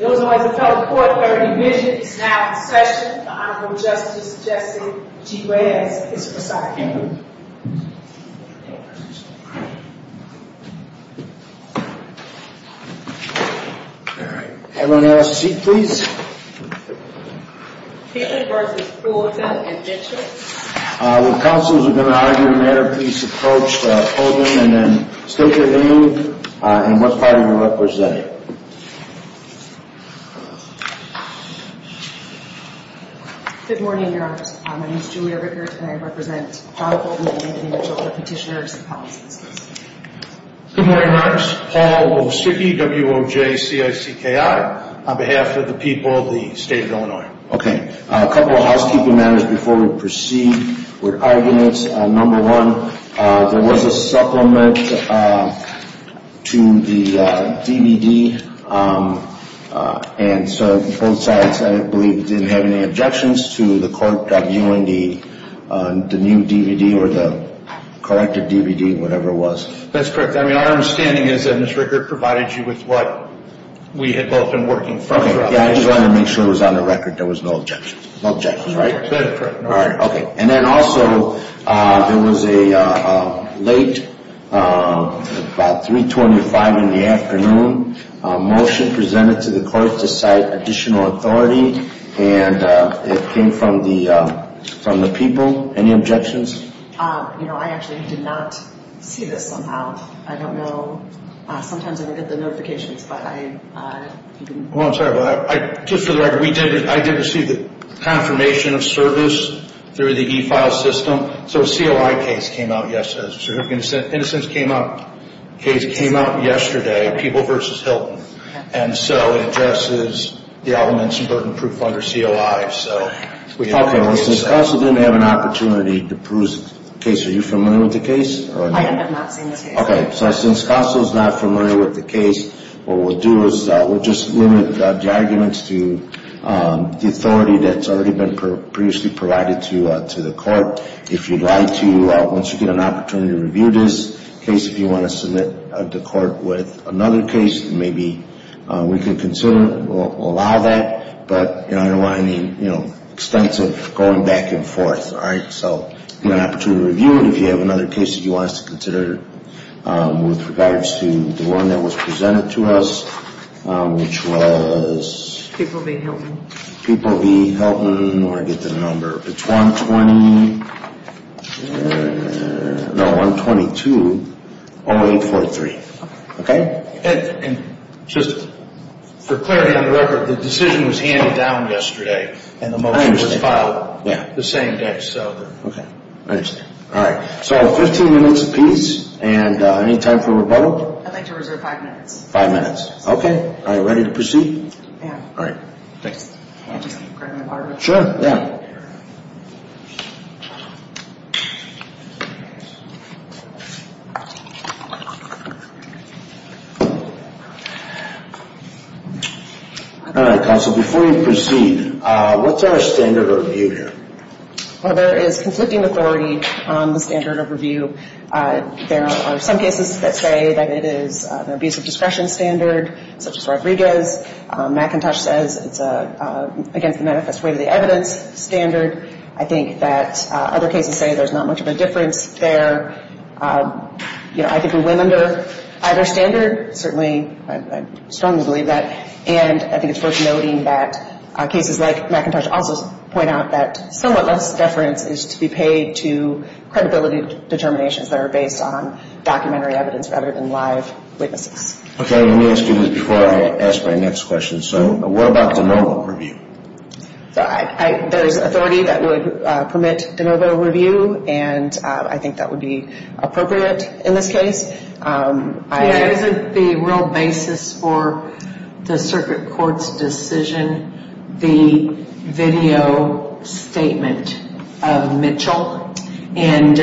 It was always a felon court where a division is now in session. The Honorable Justice Jesse G. Reyes is presiding. Everyone else, seat please. Heaton v. Fulton and Mitchell. When counsels are going to argue a matter, please approach Fulton and then stick with the move. And what party are you representing? Good morning, Your Honor. My name is Julia Rickert and I represent Donald Fulton v. Mitchell for Petitioners and Policies. Good morning, Your Honor. Paul Wosicki, W-O-J-C-I-C-K-I, on behalf of the people of the state of Illinois. Okay, a couple of housekeeping matters before we proceed with arguments. Number one, there was a supplement to the DVD, and so both sides, I believe, didn't have any objections to the court viewing the new DVD or the corrected DVD, whatever it was. That's correct. I mean, our understanding is that Ms. Rickert provided you with what we had both been working for. Okay, yeah, I just wanted to make sure it was on the record there was no objection. No objections, right? That is correct, Your Honor. All right, okay. And then also, there was a late, about 325 in the afternoon, motion presented to the court to cite additional authority, and it came from the people. Any objections? You know, I actually did not see this somehow. I don't know. Sometimes I don't get the notifications, but I didn't. Well, I'm sorry about that. Just for the record, I did receive the confirmation of service through the e-file system, so a COI case came out yesterday. A certificate of innocence case came out yesterday, People v. Hilton, and so it addresses the elements of burden proof under COI. Okay, well, since CASA didn't have an opportunity to prove the case, are you familiar with the case? I have not seen the case. Okay, so since CASA is not familiar with the case, what we'll do is we'll just limit the arguments to the authority that's already been previously provided to the court. If you'd like to, once you get an opportunity to review this case, if you want to submit it to court with another case, maybe we can consider, we'll allow that. But I don't want any extensive going back and forth, all right? So if you have an opportunity to review it, if you have another case that you want us to consider with regards to the one that was presented to us, which was... People v. Hilton. People v. Hilton, or I forget the number. It's 120, no, 122-0843. Okay? And just for clarity on the record, the decision was handed down yesterday, and the motion was filed the same day, so... Okay, I understand. All right, so 15 minutes apiece, and any time for rebuttal? I'd like to reserve five minutes. Five minutes, okay. Are you ready to proceed? Yeah. All right, thanks. Can I just grab my water bottle? Sure, yeah. All right, counsel, before you proceed, what's our standard of review here? Well, there is conflicting authority on the standard of review. There are some cases that say that it is an abusive discretion standard, such as Rodriguez. McIntosh says it's against the manifest way to the evidence standard. I think that other cases say there's not much of a difference there. You know, I think we win under either standard, certainly. I strongly believe that. And I think it's worth noting that cases like McIntosh also point out that somewhat less deference is to be paid to credibility determinations that are based on documentary evidence rather than live witnesses. Okay, let me ask you this before I ask my next question. So what about de novo review? There's authority that would permit de novo review, and I think that would be appropriate in this case. Is it the real basis for the circuit court's decision, the video statement of Mitchell? And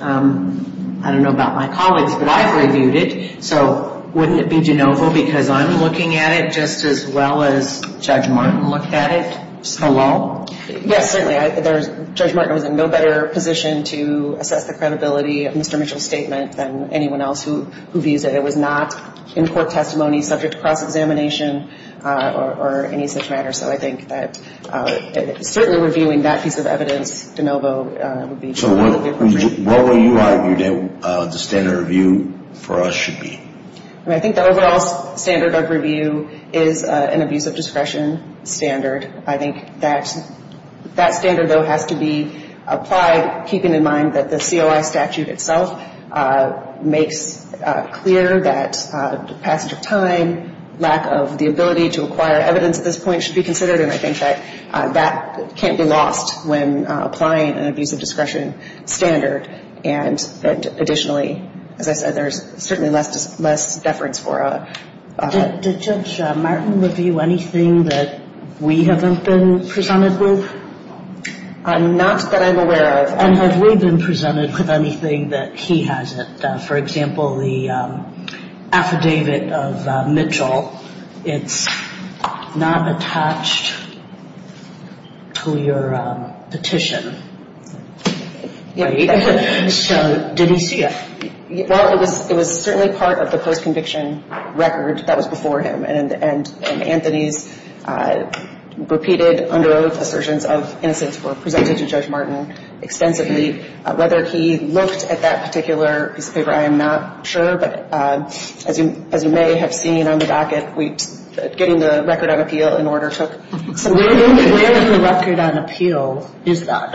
I don't know about my colleagues, but I've reviewed it. So wouldn't it be de novo because I'm looking at it just as well as Judge Martin looked at it? Yes, certainly. Judge Martin was in no better position to assess the credibility of Mr. Mitchell's statement than anyone else who views it. It was not in court testimony subject to cross-examination or any such matter. So I think that certainly reviewing that piece of evidence, de novo, would be appropriate. So what would you argue that the standard review for us should be? I think the overall standard of review is an abuse of discretion standard. I think that standard, though, has to be applied, keeping in mind that the COI statute itself makes clear that passage of time, lack of the ability to acquire evidence at this point should be considered, and I think that that can't be lost when applying an abuse of discretion standard. And additionally, as I said, there's certainly less deference for a – Did Judge Martin review anything that we haven't been presented with? Not that I'm aware of. And have we been presented with anything that he hasn't? For example, the affidavit of Mitchell, it's not attached to your petition, right? So did he see it? Well, it was certainly part of the post-conviction record that was before him, and Anthony's repeated under oath assertions of innocence were presented to Judge Martin extensively. Whether he looked at that particular piece of paper, I am not sure, but as you may have seen on the docket, getting the record on appeal in order took several days. Where in the record on appeal is that?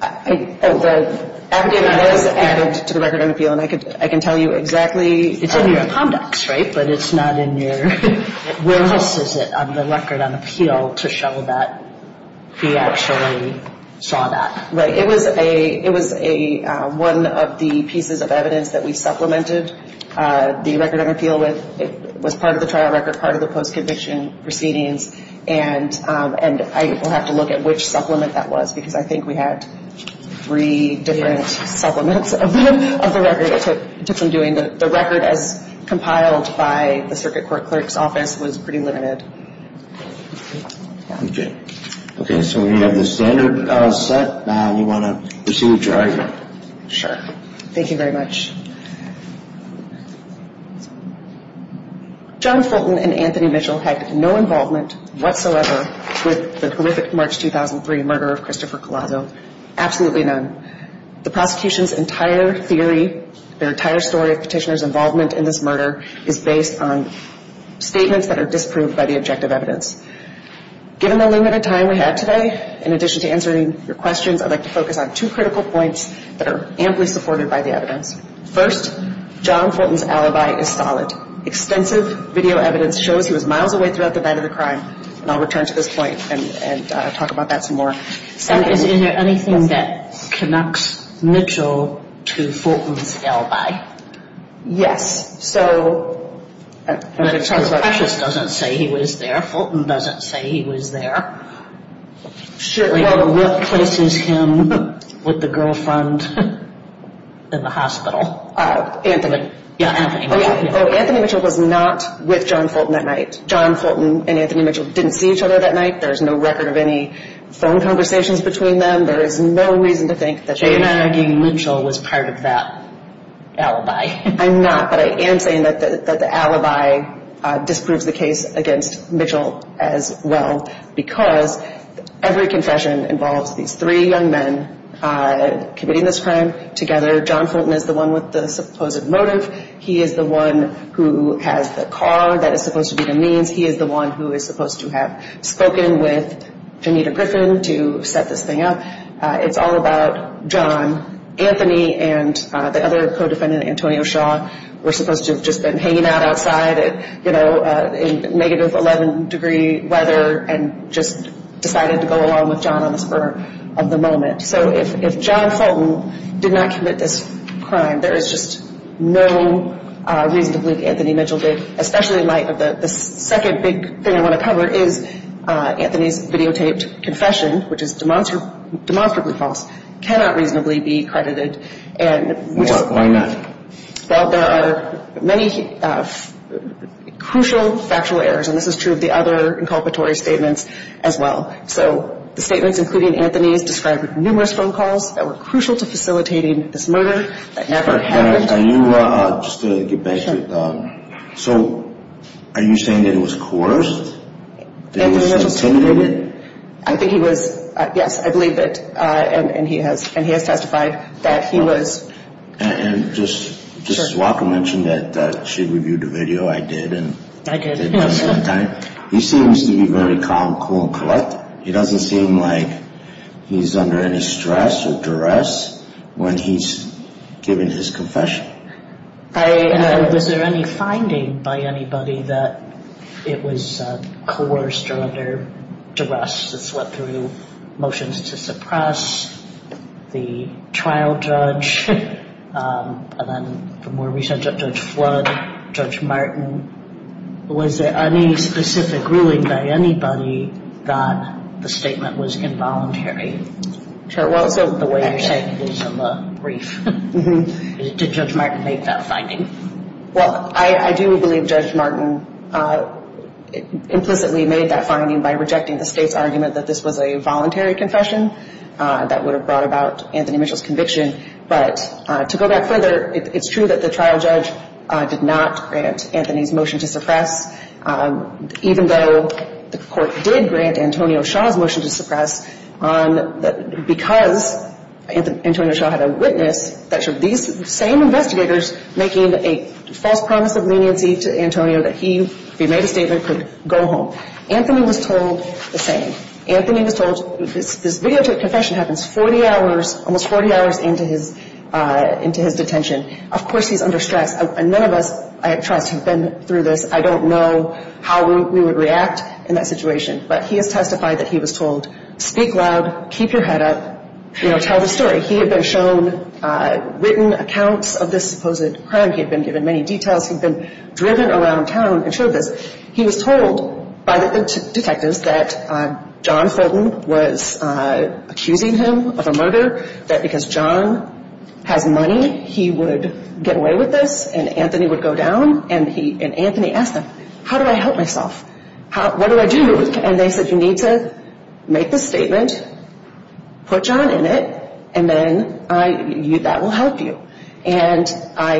The affidavit is added to the record on appeal, and I can tell you exactly. It's in your conducts, right? But it's not in your – where else is it on the record on appeal to show that he actually saw that? Right. It was one of the pieces of evidence that we supplemented the record on appeal with. It was part of the trial record, part of the post-conviction proceedings, and I will have to look at which supplement that was because I think we had three different supplements of the record. It took some doing. The record as compiled by the Circuit Court Clerk's Office was pretty limited. Okay. Okay, so we have the standard set. You want to proceed with your argument? Sure. Thank you very much. John Fulton and Anthony Mitchell had no involvement whatsoever with the horrific March 2003 murder of Christopher Collazo. Absolutely none. The prosecution's entire theory, their entire story of petitioner's involvement in this murder, is based on statements that are disproved by the objective evidence. Given the limited time we have today, in addition to answering your questions, I'd like to focus on two critical points that are amply supported by the evidence. First, John Fulton's alibi is solid. Extensive video evidence shows he was miles away throughout the night of the crime, and I'll return to this point and talk about that some more. Yes, so. Cassius doesn't say he was there. Fulton doesn't say he was there. What places him with the girlfriend in the hospital? Anthony. Yeah, Anthony. Anthony Mitchell was not with John Fulton that night. John Fulton and Anthony Mitchell didn't see each other that night. There's no record of any phone conversations between them. So you're not arguing Mitchell was part of that alibi? I'm not, but I am saying that the alibi disproves the case against Mitchell as well, because every confession involves these three young men committing this crime together. John Fulton is the one with the supposed motive. He is the one who has the car that is supposed to be the means. He is the one who is supposed to have spoken with Janita Griffin to set this thing up. It's all about John. Anthony and the other co-defendant, Antonio Shaw, were supposed to have just been hanging out outside in negative 11-degree weather and just decided to go along with John on the spur of the moment. So if John Fulton did not commit this crime, there is just no reason to believe Anthony Mitchell did, especially in light of the second big thing I want to cover is Anthony's videotaped confession, which is demonstrably false, cannot reasonably be credited. Why not? Well, there are many crucial factual errors, and this is true of the other inculpatory statements as well. So the statements, including Anthony's, describe numerous phone calls that were crucial to facilitating this murder that never happened. Just to get back to it, so are you saying that he was coerced? That he was intimidated? I think he was, yes, I believe that, and he has testified that he was. And just as Walker mentioned that she reviewed the video, I did. I did. Well, it doesn't seem like he's under any stress or duress when he's giving his confession. And was there any finding by anybody that it was coerced or under duress that swept through motions to suppress the trial judge, and then the more recent Judge Flood, Judge Martin? Was there any specific ruling by anybody that the statement was involuntary? Well, so the way you're saying it is in the brief. Did Judge Martin make that finding? Well, I do believe Judge Martin implicitly made that finding by rejecting the State's argument that this was a voluntary confession that would have brought about Anthony Mitchell's conviction. But to go back further, it's true that the trial judge did not grant Anthony's motion to suppress, even though the court did grant Antonio Shaw's motion to suppress because Antonio Shaw had a witness that these same investigators making a false promise of leniency to Antonio that he, if he made a statement, could go home. Anthony was told the same. Anthony was told this videotaped confession happens 40 hours, almost 40 hours into his detention. Of course, he's under stress, and none of us, I trust, have been through this. I don't know how we would react in that situation. But he has testified that he was told, speak loud, keep your head up, you know, tell the story. He had been shown written accounts of this supposed crime. He had been given many details. He had been driven around town and showed this. He was told by the detectives that John Fulton was accusing him of a murder, that because John has money, he would get away with this, and Anthony would go down. And Anthony asked them, how do I help myself? What do I do? And they said, you need to make this statement, put John in it, and then that will help you. And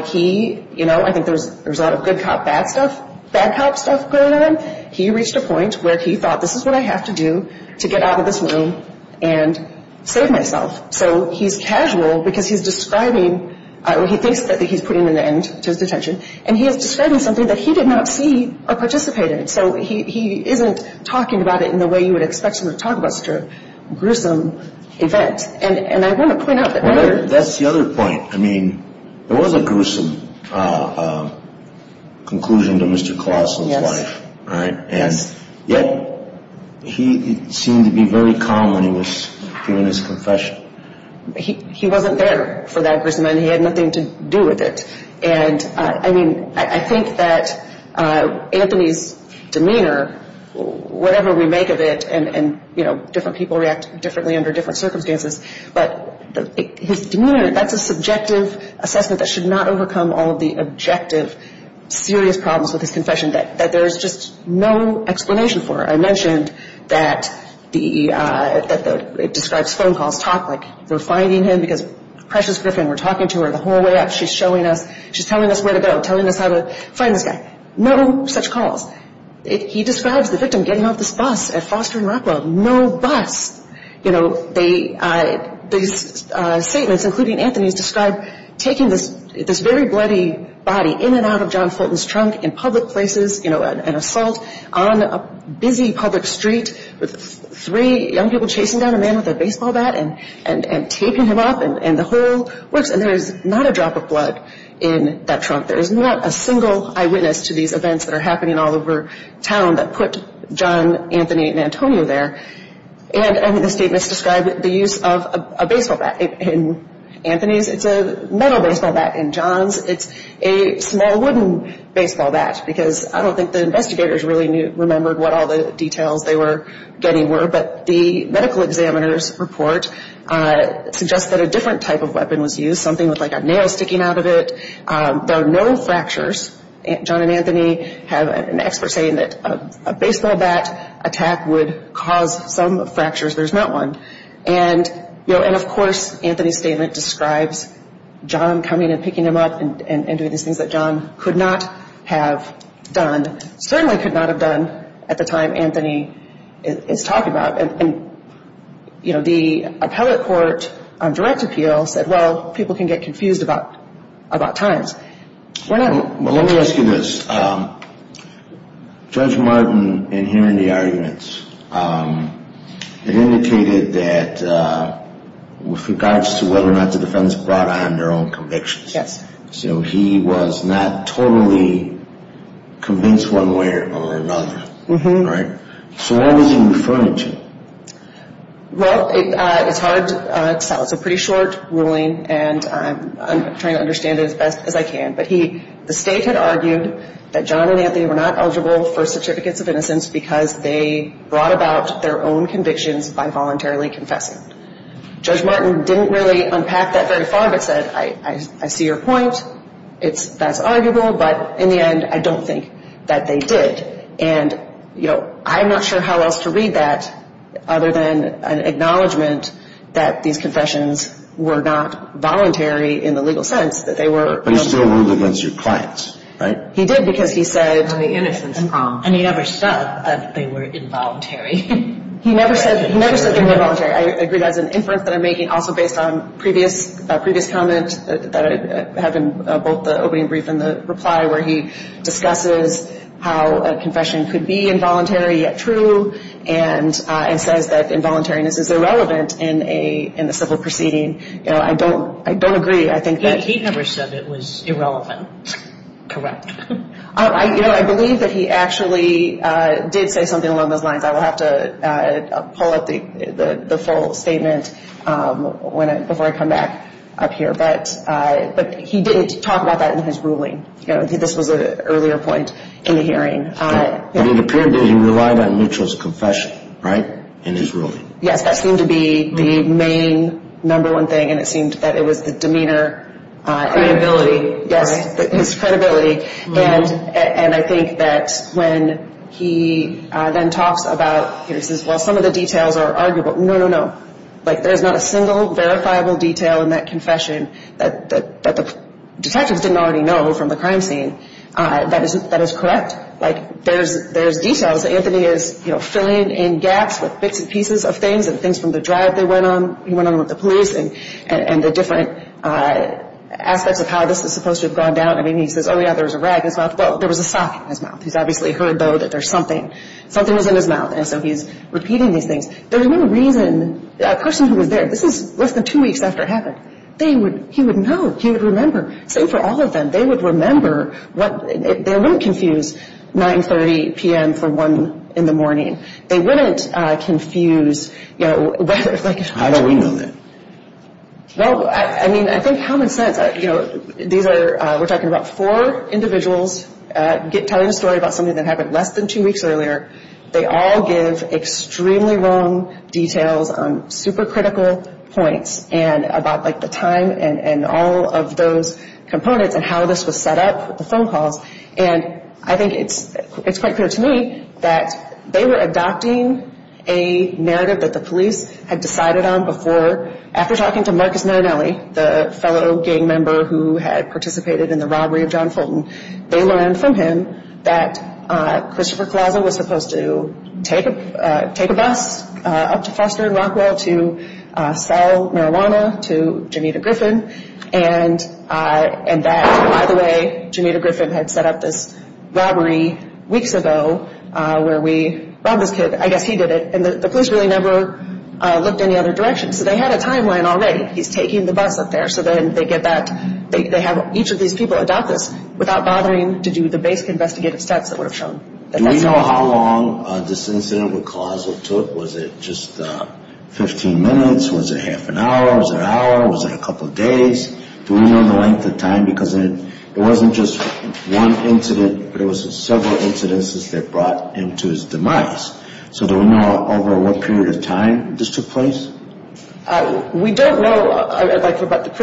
he, you know, I think there was a lot of good cop, bad stuff, bad cop stuff going on. He reached a point where he thought, this is what I have to do to get out of this room and save myself. So he's casual because he's describing, well, he thinks that he's putting an end to his detention, and he is describing something that he did not see or participate in. So he isn't talking about it in the way you would expect him to talk about such a gruesome event. Yes, and I want to point out that murder. That's the other point. I mean, there was a gruesome conclusion to Mr. Colosso's life, right? And yet he seemed to be very calm when he was giving his confession. He wasn't there for that gruesome, and he had nothing to do with it. And I mean, I think that Anthony's demeanor, whatever we make of it, and, you know, different people react differently under different circumstances, but his demeanor, that's a subjective assessment that should not overcome all of the objective, serious problems with his confession that there's just no explanation for. I mentioned that it describes phone calls. Talk like they're finding him because Precious Griffin, we're talking to her the whole way up. She's showing us, she's telling us where to go, telling us how to find this guy. No such calls. He describes the victim getting off this bus at Foster and Rockwell. No bus. You know, these statements, including Anthony's, describe taking this very bloody body in and out of John Fulton's trunk in public places, you know, an assault on a busy public street with three young people chasing down a man with a baseball bat and taping him up and the whole works. And there is not a drop of blood in that trunk. There is not a single eyewitness to these events that are happening all over town that put John, Anthony, and Antonio there. And the statements describe the use of a baseball bat. In Anthony's, it's a metal baseball bat. In John's, it's a small wooden baseball bat because I don't think the investigators really remembered what all the details they were getting were, but the medical examiner's report suggests that a different type of weapon was used, something with like a nail sticking out of it. There are no fractures. John and Anthony have an expert saying that a baseball bat attack would cause some fractures. There's not one. And, you know, and of course Anthony's statement describes John coming and picking him up and doing these things that John could not have done, certainly could not have done at the time Anthony is talking about. And, you know, the appellate court on direct appeal said, well, people can get confused about times. Well, let me ask you this. Judge Martin, in hearing the arguments, it indicated that with regards to whether or not the defendants brought on their own convictions. Yes. So he was not totally convinced one way or another, right? So what was he referring to? Well, it's hard to tell. It's a pretty short ruling, and I'm trying to understand it as best as I can. But the state had argued that John and Anthony were not eligible for certificates of innocence because they brought about their own convictions by voluntarily confessing. Judge Martin didn't really unpack that very far, but said, I see your point. That's arguable. But in the end, I don't think that they did. And, you know, I'm not sure how else to read that other than an acknowledgment that these confessions were not voluntary in the legal sense, that they were. But he still ruled against your clients, right? He did because he said. On the innocence problem. And he never said that they were involuntary. He never said they were involuntary. I agree. That's an inference that I'm making also based on a previous comment that I have in both the opening brief and the reply where he discusses how a confession could be involuntary yet true and says that involuntariness is irrelevant in a civil proceeding. I don't agree. He never said it was irrelevant. Correct. I believe that he actually did say something along those lines. I will have to pull up the full statement before I come back up here. But he didn't talk about that in his ruling. This was an earlier point in the hearing. But it appeared that he relied on Neutral's confession, right, in his ruling. Yes, that seemed to be the main number one thing, and it seemed that it was the demeanor. Credibility. Yes, his credibility. And I think that when he then talks about, he says, well, some of the details are arguable. No, no, no. Like, there's not a single verifiable detail in that confession that the detectives didn't already know from the crime scene that is correct. Like, there's details that Anthony is, you know, filling in gaps with bits and pieces of things and things from the drive he went on with the police and the different aspects of how this is supposed to have gone down. I mean, he says, oh, yeah, there was a rag in his mouth. Well, there was a sock in his mouth. He's obviously heard, though, that there's something. Something was in his mouth, and so he's repeating these things. There's no reason a person who was there, this is less than two weeks after it happened. He would know. He would remember. Same for all of them. They would remember. They wouldn't confuse 9.30 p.m. for 1 in the morning. They wouldn't confuse, you know. How do we know that? Well, I mean, I think common sense. You know, these are, we're talking about four individuals telling a story about something that happened less than two weeks earlier. They all give extremely wrong details on super critical points and about, like, the time and all of those components and how this was set up with the phone calls. And I think it's quite clear to me that they were adopting a narrative that the police had decided on before. After talking to Marcus Marinelli, the fellow gang member who had participated in the robbery of John Fulton, they learned from him that Christopher Collazo was supposed to take a bus up to Foster and Rockwell to sell marijuana to Jameeda Griffin. And that, by the way, Jameeda Griffin had set up this robbery weeks ago where we robbed this kid. I guess he did it. And the police really never looked any other direction. So they had a timeline already. He's taking the bus up there. They have each of these people adopt this without bothering to do the basic investigative steps that were shown. Do we know how long this incident with Collazo took? Was it just 15 minutes? Was it half an hour? Was it an hour? Was it a couple of days? Do we know the length of time? Because it wasn't just one incident, but it was several incidents that brought him to his demise. So do we know over what period of time this took place? We don't know about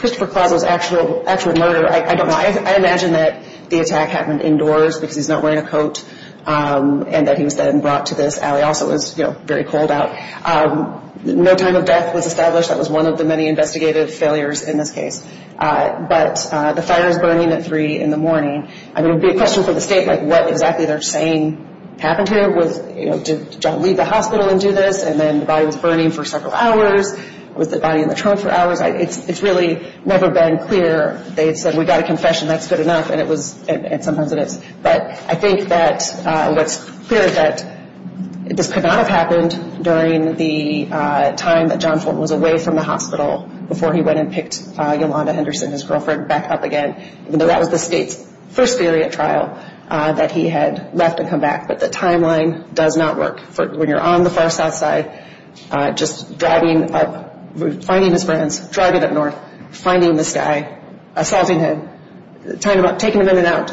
Christopher Collazo's actual murder. I don't know. I imagine that the attack happened indoors because he's not wearing a coat and that he was then brought to this alley. Also, it was very cold out. No time of death was established. That was one of the many investigative failures in this case. But the fire was burning at 3 in the morning. I mean, it would be a question for the state, like, what exactly they're saying happened here. Did John leave the hospital and do this? And then the body was burning for several hours. Was the body in the trunk for hours? It's really never been clear. They said, we got a confession, that's good enough. And sometimes it is. But I think that what's clear is that this could not have happened during the time that John Ford was away from the hospital before he went and picked Yolanda Henderson, his girlfriend, back up again, even though that was the state's first variant trial that he had left and come back. But the timeline does not work. When you're on the far south side, just driving up, finding his friends, driving up north, finding this guy, assaulting him, taking him in and out.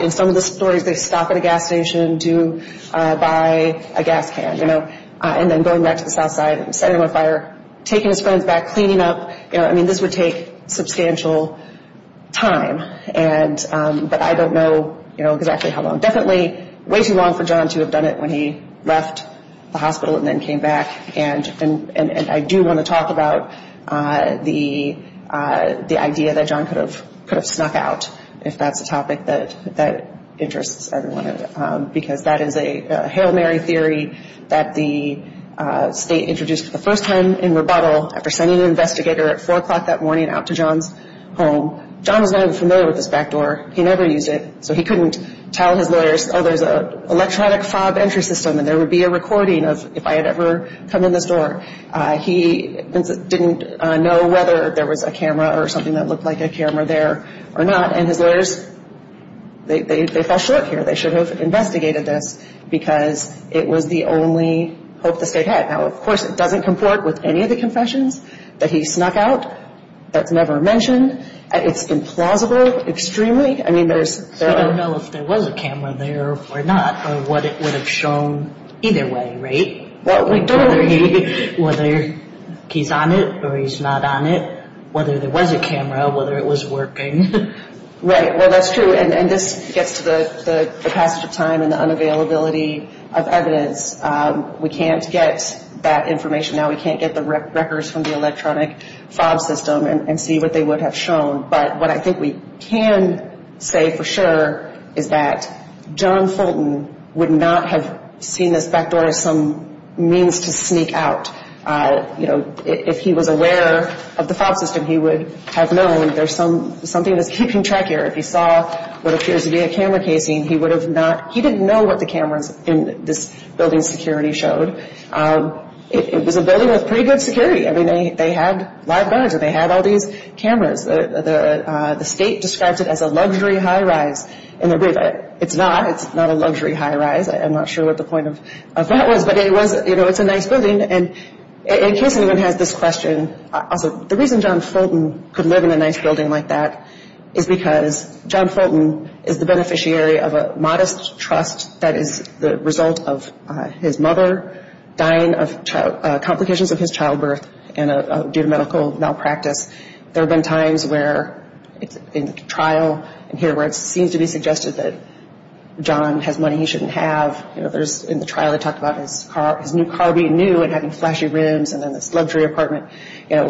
In some of the stories, they stop at a gas station to buy a gas can. And then going back to the south side and setting him on fire, taking his friends back, cleaning up. I mean, this would take substantial time. But I don't know exactly how long. Definitely way too long for John to have done it when he left the hospital and then came back. And I do want to talk about the idea that John could have snuck out, if that's a topic that interests everyone. Because that is a Hail Mary theory that the state introduced for the first time in rebuttal after sending an investigator at 4 o'clock that morning out to John's home. John was not even familiar with this back door. He never used it. So he couldn't tell his lawyers, oh, there's an electronic fob entry system and there would be a recording of if I had ever come in this door. He didn't know whether there was a camera or something that looked like a camera there or not. And his lawyers, they fell short here. They should have investigated this because it was the only hope the state had. Now, of course, it doesn't comport with any of the confessions that he snuck out that's never mentioned. It's implausible extremely. I mean, there's- I don't know if there was a camera there or not or what it would have shown either way, right? Don't worry. Whether he's on it or he's not on it, whether there was a camera, whether it was working. Right. Well, that's true. And this gets to the passage of time and the unavailability of evidence. We can't get that information now. We can't get the records from the electronic fob system and see what they would have shown. But what I think we can say for sure is that John Fulton would not have seen this back door as some means to sneak out. You know, if he was aware of the fob system, he would have known there's something that's keeping track here. If he saw what appears to be a camera casing, he would have not- he didn't know what the cameras in this building's security showed. It was a building with pretty good security. I mean, they had live guards and they had all these cameras. The state describes it as a luxury high rise. It's not. It's not a luxury high rise. I'm not sure what the point of that was, but it was- you know, it's a nice building. And in case anyone has this question, also, the reason John Fulton could live in a nice building like that is because John Fulton is the beneficiary of a modest trust that is the result of his mother dying of complications of his childbirth due to medical malpractice. There have been times where in trial and here where it seems to be suggested that John has money he shouldn't have. You know, there's- in the trial they talk about his new car being new and having flashy rims and then this luxury apartment. You know,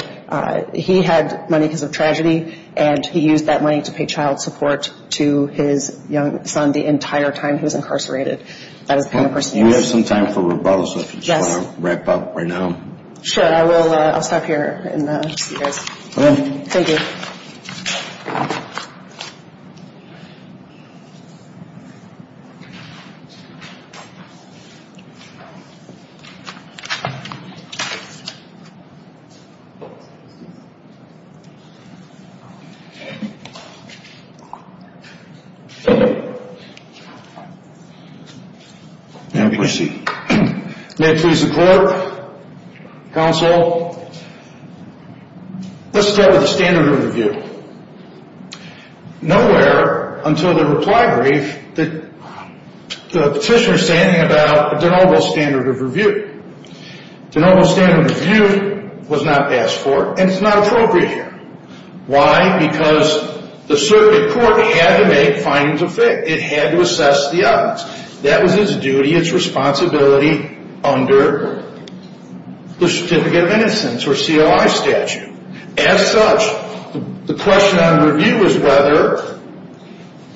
he had money because of tragedy and he used that money to pay child support to his young son the entire time he was incarcerated. That is the kind of person he was. Well, we have some time for rebuttals if you just want to wrap up right now. Sure, I will stop here and see you guys. All right. Thank you. May it please the court, counsel, let's start with the standard of review. Nowhere until the reply brief did the petitioner say anything about a de novo standard of review. De novo standard of review was not asked for and it's not appropriate here. Why? Because the circuit court had to make findings of faith. It had to assess the evidence. That was its duty, its responsibility under the Certificate of Innocence or CLI statute. As such, the question on review is whether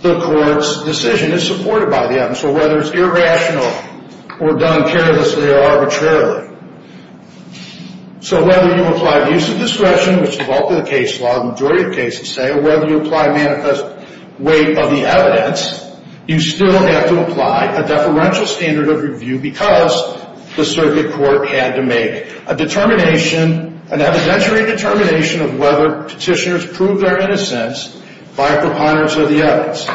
the court's decision is supported by the evidence. So whether it's irrational or done carelessly or arbitrarily. So whether you apply the use of discretion, which is often the case law, the majority of cases say, or whether you apply manifest weight of the evidence, you still have to apply a deferential standard of review because the circuit court had to make a determination, an evidentiary determination of whether petitioners proved their innocence by a preponderance of the evidence.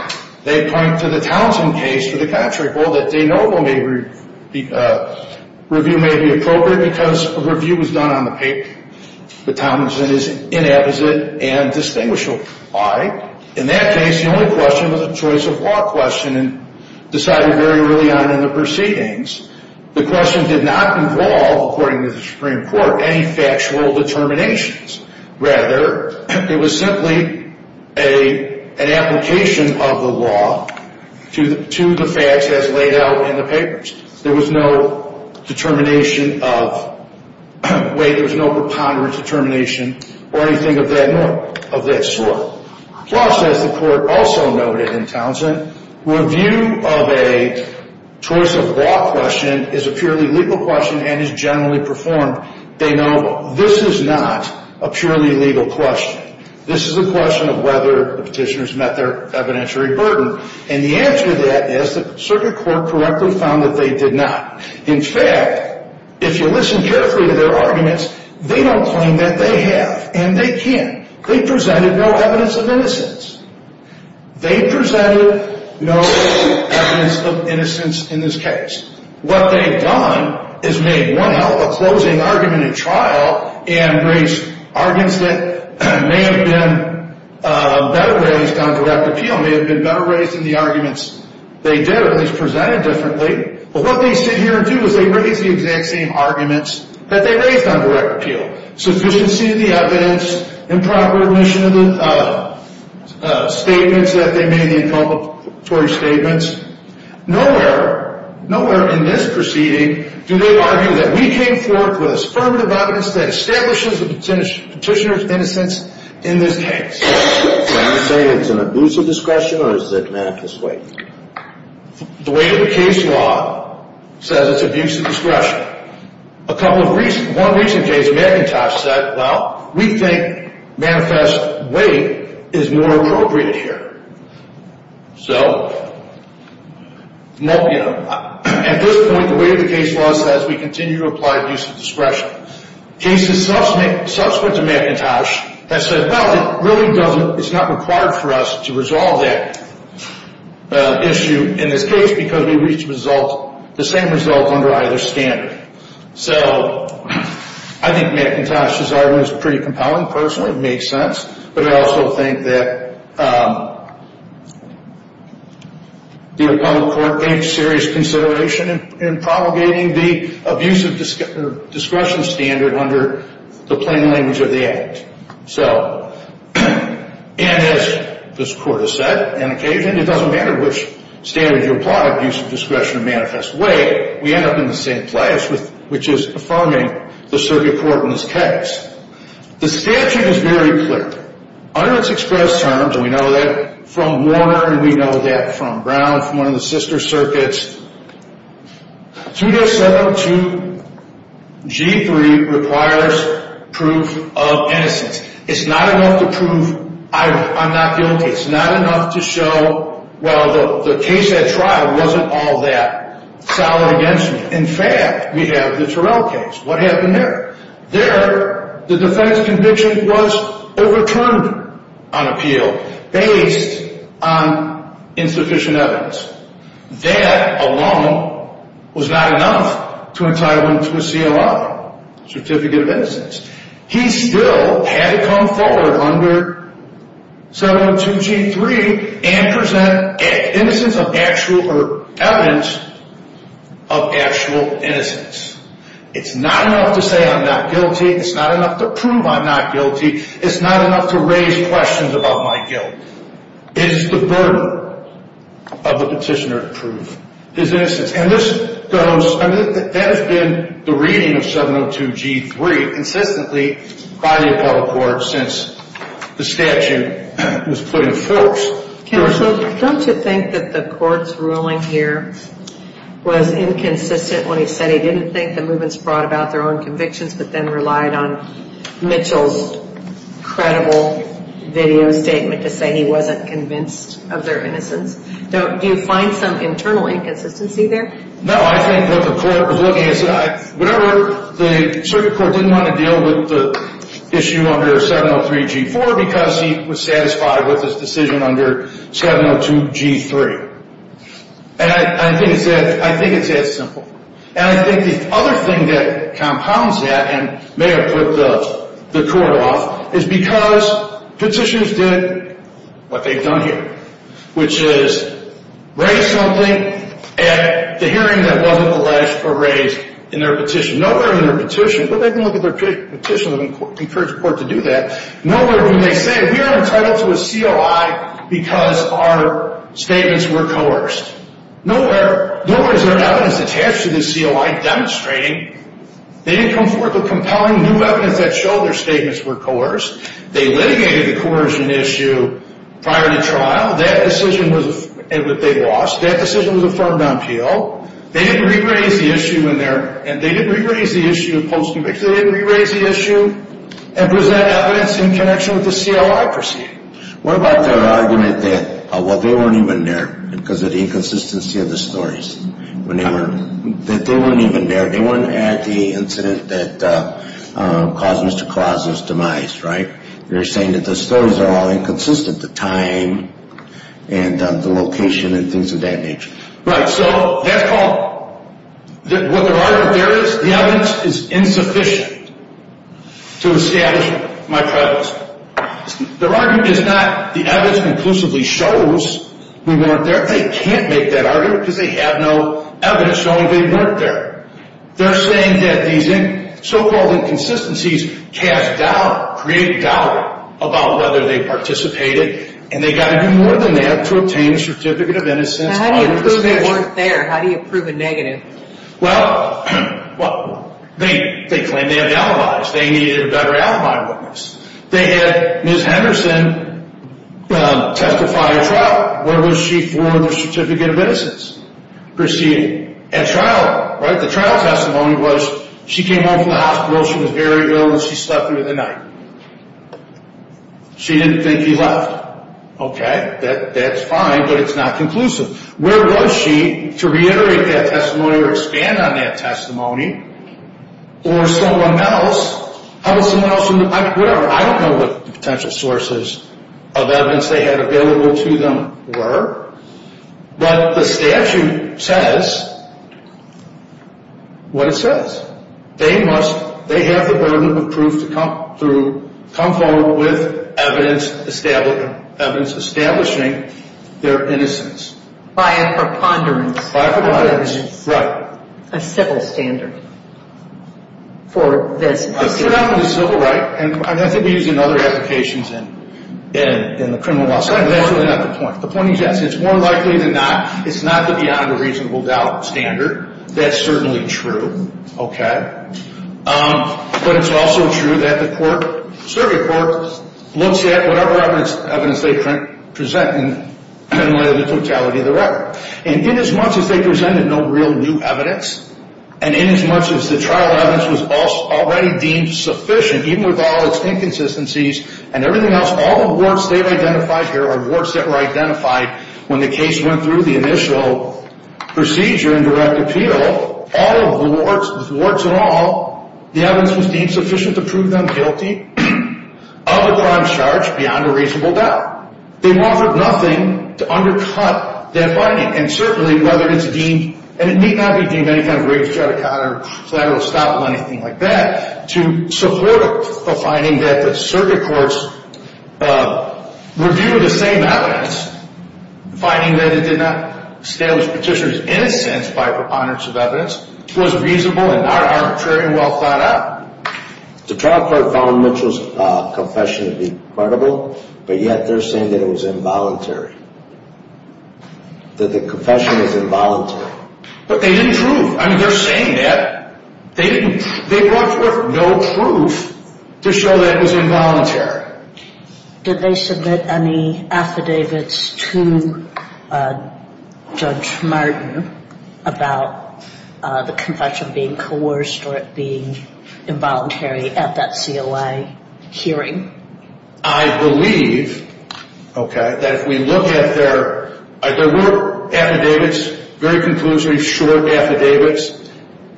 They point to the Townsend case for the contract. Well, the de novo review may be appropriate because a review was done on the paper. But Townsend is inapposite and distinguishable. Why? In that case, the only question was a choice of law question and decided very early on in the proceedings. The question did not involve, according to the Supreme Court, any factual determinations. Rather, it was simply an application of the law to the facts as laid out in the papers. There was no determination of weight. There was no preponderance determination or anything of that sort. Plus, as the court also noted in Townsend, review of a choice of law question is a purely legal question and is generally performed de novo. Now, this is not a purely legal question. This is a question of whether the petitioners met their evidentiary burden, and the answer to that is the circuit court correctly found that they did not. In fact, if you listen carefully to their arguments, they don't claim that they have, and they can't. They presented no evidence of innocence. They presented no evidence of innocence in this case. What they've done is made, well, a closing argument in trial and raised arguments that may have been better raised on direct appeal, may have been better raised in the arguments they did or at least presented differently. But what they sit here and do is they raise the exact same arguments that they raised on direct appeal, sufficiency of the evidence, improper admission of the statements that they made, the inculpatory statements. Nowhere, nowhere in this proceeding do they argue that we came forth with affirmative evidence that establishes the petitioner's innocence in this case. Can you say it's an abuse of discretion or is it manifest weight? The weight of the case law says it's abuse of discretion. A couple of recent, one recent case, McIntosh said, well, we think manifest weight is more appropriate here. So at this point, the weight of the case law says we continue to apply abuse of discretion. Cases subsequent to McIntosh that said, well, it really doesn't, it's not required for us to resolve that issue in this case because we reached the same result under either standard. So I think McIntosh's argument is pretty compelling, personally, it makes sense. But I also think that the appellate court takes serious consideration in promulgating the abuse of discretion standard under the plain language of the act. So, and as this court has said on occasion, it doesn't matter which standard you apply, abuse of discretion or manifest weight, we end up in the same place, which is affirming the circuit court in this case. The statute is very clear. Under its express terms, and we know that from Warner and we know that from Brown, from one of the sister circuits, 2-7-2-G-3 requires proof of innocence. It's not enough to prove I'm not guilty. It's not enough to show, well, the case at trial wasn't all that solid against me. In fact, we have the Terrell case. What happened there? There, the defense conviction was overturned on appeal based on insufficient evidence. That alone was not enough to entitle him to a CLI, Certificate of Innocence. He still had to come forward under 7-1-2-G-3 and present evidence of actual innocence. It's not enough to say I'm not guilty. It's not enough to prove I'm not guilty. It's not enough to raise questions about my guilt. It is the burden of the petitioner to prove his innocence. And this goes, that has been the reading of 7-1-2-G-3 consistently by the appellate court since the statute was put in force. Counsel, don't you think that the court's ruling here was inconsistent when he said he didn't think the movements brought about their own convictions but then relied on Mitchell's credible video statement to say he wasn't convinced of their innocence? Do you find some internal inconsistency there? No. I think what the court was looking at, whatever the circuit court didn't want to deal with the issue under 7-0-3-G-4 because he was satisfied with his decision under 7-0-2-G-3. And I think it's that simple. And I think the other thing that compounds that and may have put the court off is because petitioners did what they've done here, which is raise something at the hearing that wasn't the last for raise in their petition. Nowhere in their petition, but they can look at their petition and encourage the court to do that, nowhere do they say we are entitled to a COI because our statements were coerced. Nowhere is there evidence attached to this COI demonstrating they didn't come forth with compelling new evidence that showed their statements were coerced. They litigated the coercion issue prior to trial. That decision was, they lost. That decision was affirmed on appeal. They didn't re-raise the issue in there. And they didn't re-raise the issue of post-conviction. They didn't re-raise the issue and present evidence in connection with the COI proceeding. What about their argument that, well, they weren't even there because of the inconsistency of the stories, that they weren't even there, they weren't at the incident that caused Mr. Clausen's demise, right? They're saying that the stories are all inconsistent, the time and the location and things of that nature. Right, so that's called, what their argument there is, the evidence is insufficient to establish my premise. Their argument is not the evidence conclusively shows we weren't there. They can't make that argument because they have no evidence showing they weren't there. They're saying that these so-called inconsistencies cast doubt, create doubt about whether they participated, and they've got to do more than that to obtain a Certificate of Innocence under the statute. How do you prove they weren't there? How do you prove a negative? Well, they claim they have the alibis. They needed a better alibi witness. They had Ms. Henderson testify at trial. Where was she for the Certificate of Innocence proceeding? At trial, right? The trial testimony was she came home from the hospital, she was very ill, and she slept through the night. She didn't think he left. Okay, that's fine, but it's not conclusive. Where was she to reiterate that testimony or expand on that testimony? Or someone else, how would someone else, whatever, I don't know what potential sources of evidence they had available to them were, but the statute says what it says. They have the burden of proof to come forward with evidence establishing their innocence. By a preponderance. By a preponderance, right. A civil standard for this. It's not a civil right, and I think we use it in other applications in the criminal law setting, but that's really not the point. The point is, yes, it's more likely than not, it's not the beyond a reasonable doubt standard. That's certainly true. Okay. But it's also true that the court, survey court, looks at whatever evidence they present in light of the totality of the record. And inasmuch as they presented no real new evidence, and inasmuch as the trial evidence was already deemed sufficient, even with all its inconsistencies and everything else, all the warts they've identified here are warts that were identified when the case went through the initial procedure and direct appeal, all of the warts, the warts in all, the evidence was deemed sufficient to prove them guilty of the crime charged beyond a reasonable doubt. They offered nothing to undercut that finding. And certainly, whether it's deemed, and it may not be deemed any kind of racial, to support a finding that the circuit courts review the same evidence, finding that it did not establish Petitioner's innocence by preponderance of evidence, was reasonable and not arbitrary and well thought out. The trial court found Mitchell's confession to be credible, but yet they're saying that it was involuntary, that the confession was involuntary. But they didn't prove. I mean, they're saying that. They brought forth no proof to show that it was involuntary. Did they submit any affidavits to Judge Martin about the confession being coerced or it being involuntary at that COI hearing? I believe, okay, that if we look at their, there were affidavits, very conclusory, short affidavits.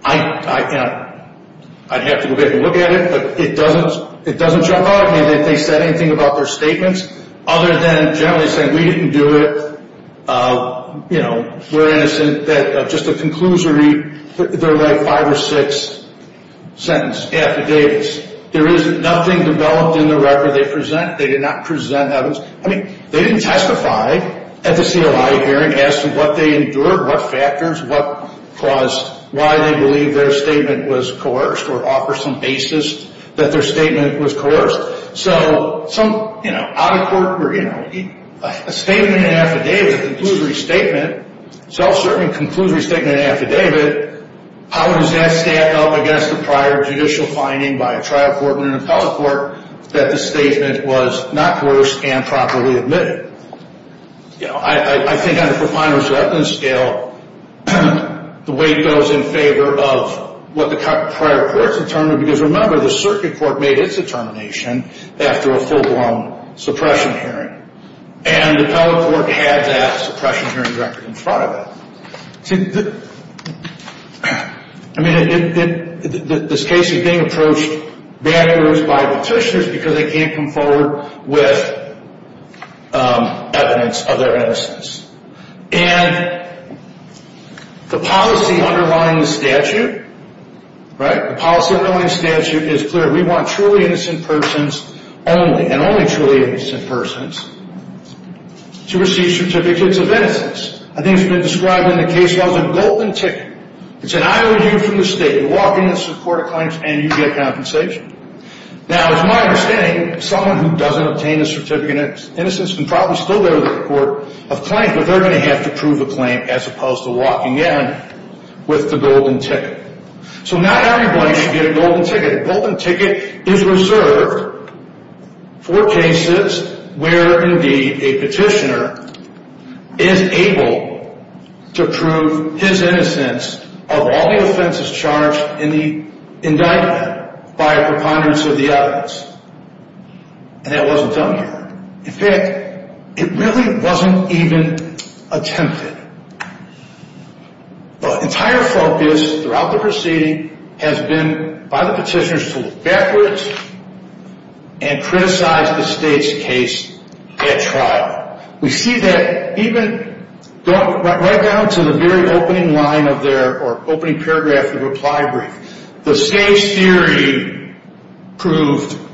I'd have to go back and look at it, but it doesn't jump out at me that they said anything about their statements other than generally saying we didn't do it, you know, we're innocent, that just a conclusory, they're like five or six sentences, affidavits. There is nothing developed in the record they present. They did not present evidence. I mean, they didn't testify at the COI hearing as to what they endured, what factors, what caused, why they believe their statement was coerced or offer some basis that their statement was coerced. So some, you know, out of court, you know, a statement, an affidavit, a conclusory statement, self-serving conclusory statement, an affidavit, how does that stand up against the prior judicial finding by a trial court and an appellate court that the statement was not coerced and properly admitted? You know, I think on a profiner's reckoning scale, the weight goes in favor of what the prior court determined because remember, the circuit court made its determination after a full-blown suppression hearing. And the appellate court had that suppression hearing record in front of it. See, I mean, this case is being approached backwards by petitioners because they can't come forward with evidence of their innocence. And the policy underlying the statute, right, the policy underlying the statute is clear. We want truly innocent persons only and only truly innocent persons to receive certificates of innocence. I think it's been described in the case law as a golden ticket. It's an IOU from the state. You walk into the court of claims and you get compensation. Now, it's my understanding someone who doesn't obtain a certificate of innocence can probably still go to the court of claims, but they're going to have to prove a claim as opposed to walking in with the golden ticket. So not everybody should get a golden ticket. A golden ticket is reserved for cases where, indeed, a petitioner is able to prove his innocence of all the offenses charged in the indictment by a preponderance of the evidence. And that wasn't done here. In fact, it really wasn't even attempted. The entire focus throughout the proceeding has been by the petitioners to look backwards and criticize the state's case at trial. We see that even right down to the very opening line of their opening paragraph of the reply brief. The state's theory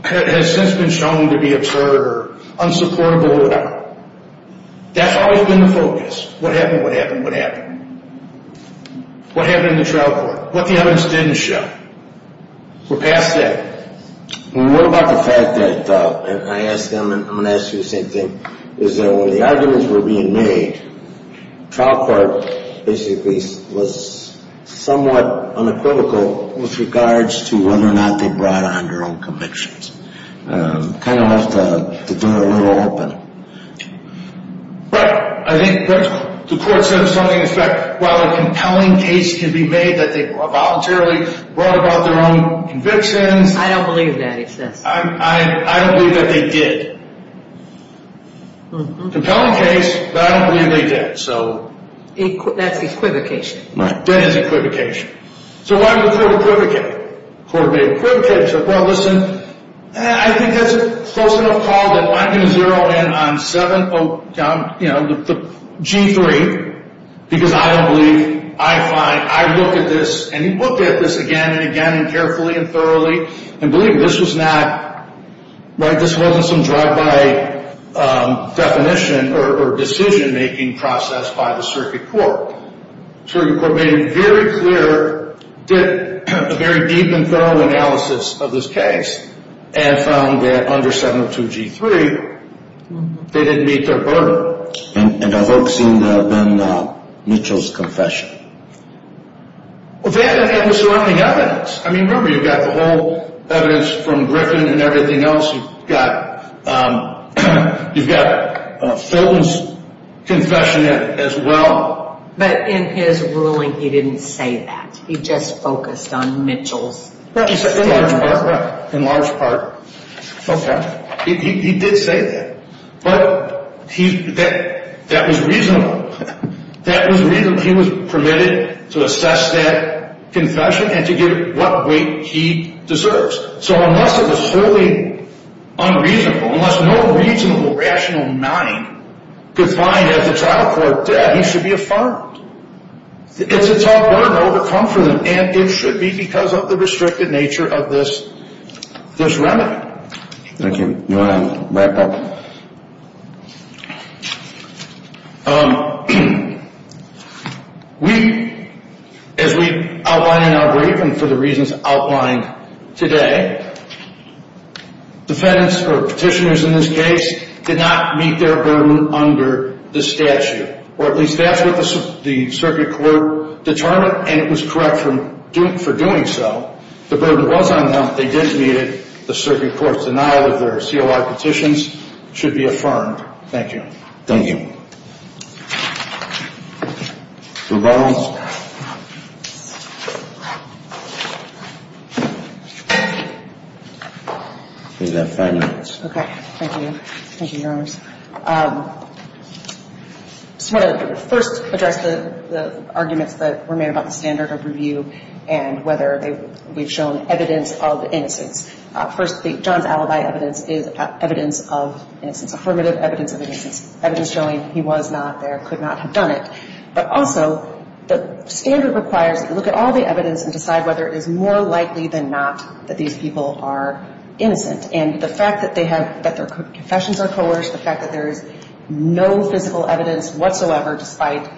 has since been shown to be absurd or unsupportable or whatever. That's always been the focus. What happened? What happened? What happened? What happened in the trial court? What the evidence didn't show? We're past that. What about the fact that, and I'm going to ask you the same thing, is that when the arguments were being made, the trial court basically was somewhat unequivocal with regards to whether or not they brought on their own convictions. Kind of left the door a little open. But I think the court said something, in fact, while a compelling case can be made that they voluntarily brought about their own convictions. I don't believe that. I don't believe that they did. Compelling case, but I don't believe they did. That's equivocation. That is equivocation. So why would the court equivocate? Well, listen, I think that's a close enough call that I'm going to zero in on G3, because I don't believe, I find, I look at this, and he looked at this again and again and carefully and thoroughly, and believed this was not, this wasn't some drive-by definition or decision-making process by the circuit court. Circuit court made it very clear, did a very deep and thorough analysis of this case, and found that under 702 G3, they didn't meet their burden. And I hope it seemed to have been Mitchell's confession. Well, they had the surrounding evidence. I mean, remember, you've got the whole evidence from Griffin and everything else. You've got Filton's confession as well. But in his ruling, he didn't say that. He just focused on Mitchell's statement. In large part. In large part. Okay. He did say that. But that was reasonable. That was reasonable. He was permitted to assess that confession and to give it what weight he deserves. So unless it was fully unreasonable, unless no reasonable, rational mind could find, as the trial court did, he should be affirmed. It's a tough burden to overcome for them, and it should be because of the restricted nature of this remedy. Thank you. You want to wrap up? As we outlined in our briefing for the reasons outlined today, defendants, or petitioners in this case, did not meet their burden under the statute. Or at least that's what the circuit court determined, and it was correct for doing so. The burden was on them. They did meet it. The circuit court's denial of their CLR petitions should be affirmed. Thank you. Thank you. Any other questions? Okay. Thank you. Thank you, Your Honors. Just want to first address the arguments that were made about the standard of review and whether they've shown evidence of innocence. First, John's alibi evidence is evidence of innocence. Affirmative evidence of innocence. Evidence showing he was not there, could not have done it. But also, the standard requires that you look at all the evidence and decide whether it is more likely than not that these people are innocent. And the fact that their confessions are coerced, the fact that there is no physical evidence whatsoever, despite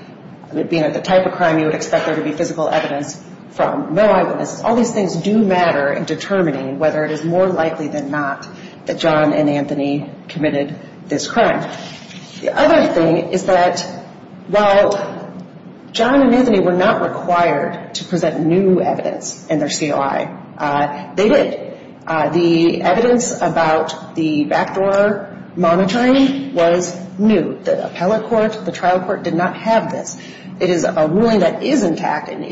it being the type of crime you would expect there to be physical evidence from, no eyewitnesses, all these things do matter in determining whether it is more likely than not that John and Anthony committed this crime. The other thing is that while John and Anthony were not required to present new evidence in their COI, they did. The evidence about the backdoor monitoring was new. The appellate court, the trial court did not have this. It is a ruling that is intact and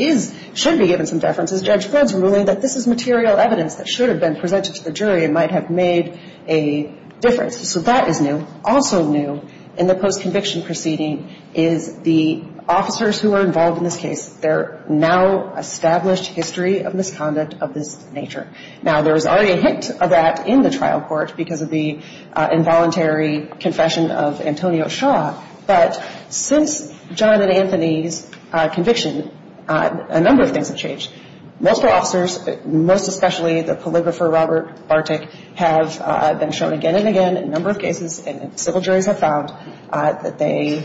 should be given some deference. Judge Ford's ruling that this is material evidence that should have been presented to the jury and might have made a difference. So that is new. Also new in the post-conviction proceeding is the officers who are involved in this case, their now-established history of misconduct of this nature. Now, there was already a hint of that in the trial court because of the involuntary confession of Antonio Shaw. But since John and Anthony's conviction, a number of things have changed. Multiple officers, most especially the polygrapher Robert Bartik, have been shown again and again in a number of cases, and civil juries have found that they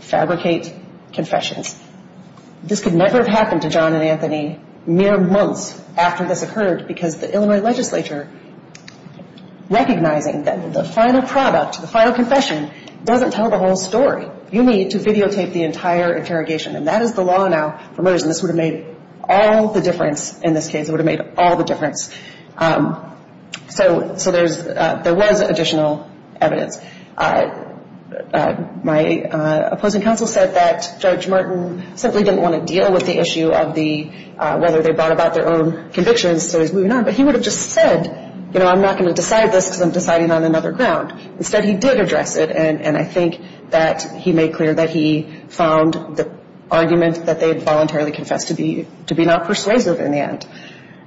fabricate confessions. This could never have happened to John and Anthony mere months after this occurred because the Illinois legislature, recognizing that the final product, the final confession, doesn't tell the whole story. You need to videotape the entire interrogation. And that is the law now for murders. And this would have made all the difference in this case. It would have made all the difference. So there was additional evidence. My opposing counsel said that Judge Martin simply didn't want to deal with the issue of whether they brought about their own convictions, so he's moving on. But he would have just said, you know, I'm not going to decide this because I'm deciding on another ground. Instead, he did address it, and I think that he made clear that he found the argument that they voluntarily confessed to be not persuasive in the end.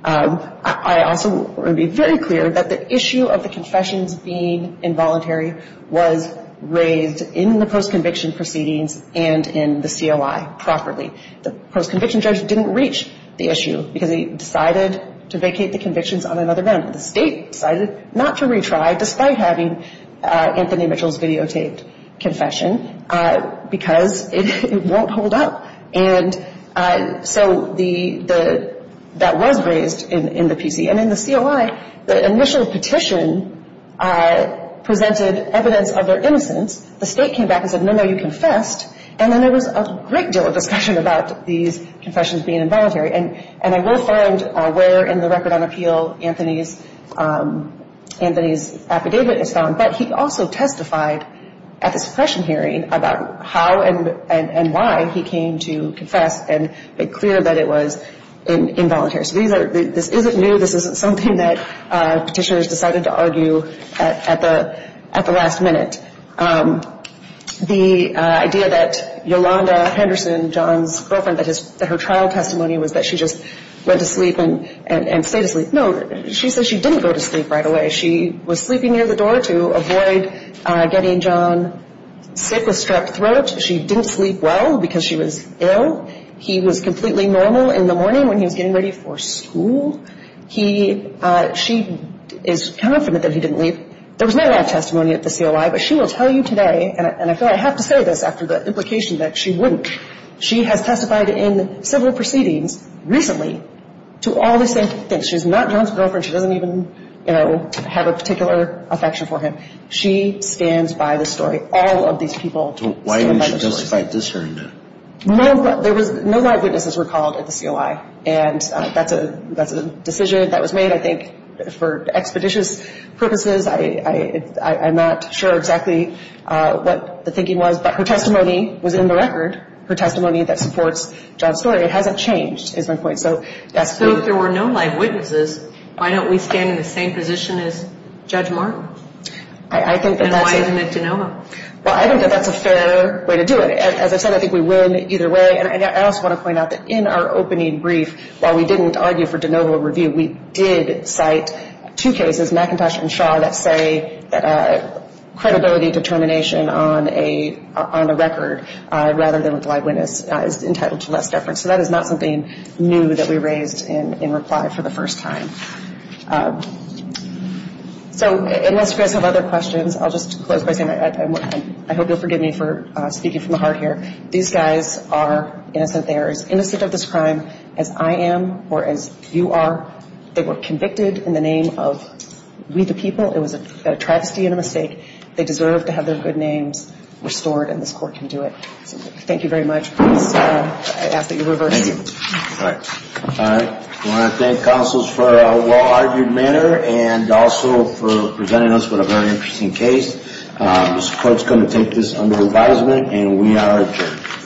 I also want to be very clear that the issue of the confessions being involuntary was raised in the post-conviction proceedings and in the COI properly. The post-conviction judge didn't reach the issue because he decided to vacate the convictions on another ground. The state decided not to retry despite having Anthony Mitchell's videotaped confession because it won't hold up. And so that was raised in the PC. And in the COI, the initial petition presented evidence of their innocence. The state came back and said, no, no, you confessed. And then there was a great deal of discussion about these confessions being involuntary. And I will find where in the record on appeal Anthony's affidavit is found, but he also testified at the suppression hearing about how and why he came to confess and made clear that it was involuntary. So this isn't new. This isn't something that petitioners decided to argue at the last minute. The idea that Yolanda Henderson, John's girlfriend, that her trial testimony was that she just went to sleep and stayed asleep. No, she said she didn't go to sleep right away. She was sleeping near the door to avoid getting John sick with strep throat. She didn't sleep well because she was ill. He was completely normal in the morning when he was getting ready for school. She is confident that he didn't leave. There was no life testimony at the COI, but she will tell you today, and I feel I have to say this after the implication that she wouldn't, she has testified in several proceedings recently to all the same things. She's not John's girlfriend. She doesn't even, you know, have a particular affection for him. She stands by the story. All of these people stand by the story. Why didn't you testify at this hearing, then? No, there was no eyewitnesses were called at the COI, and that's a decision that was made, I think, for expeditious purposes. I'm not sure exactly what the thinking was, but her testimony was in the record, her testimony that supports John's story. It hasn't changed is my point. So if there were no live witnesses, why don't we stand in the same position as Judge Martin? And why isn't it DeNova? Well, I think that that's a fair way to do it. As I said, I think we win either way. And I also want to point out that in our opening brief, while we didn't argue for DeNova review, we did cite two cases, McIntosh and Shaw, that say credibility determination on a record rather than with live witness is entitled to less deference. So that is not something new that we raised in reply for the first time. So unless you guys have other questions, I'll just close by saying I hope you'll forgive me for speaking from the heart here. These guys are innocent. They are as innocent of this crime as I am or as you are. They were convicted in the name of we the people. It was a travesty and a mistake. They deserve to have their good names restored, and this Court can do it. Thank you very much. I ask that you reverse. Thank you. All right. I want to thank counsels for a well-argued manner and also for presenting us with a very interesting case. This Court is going to take this under advisement, and we are adjourned.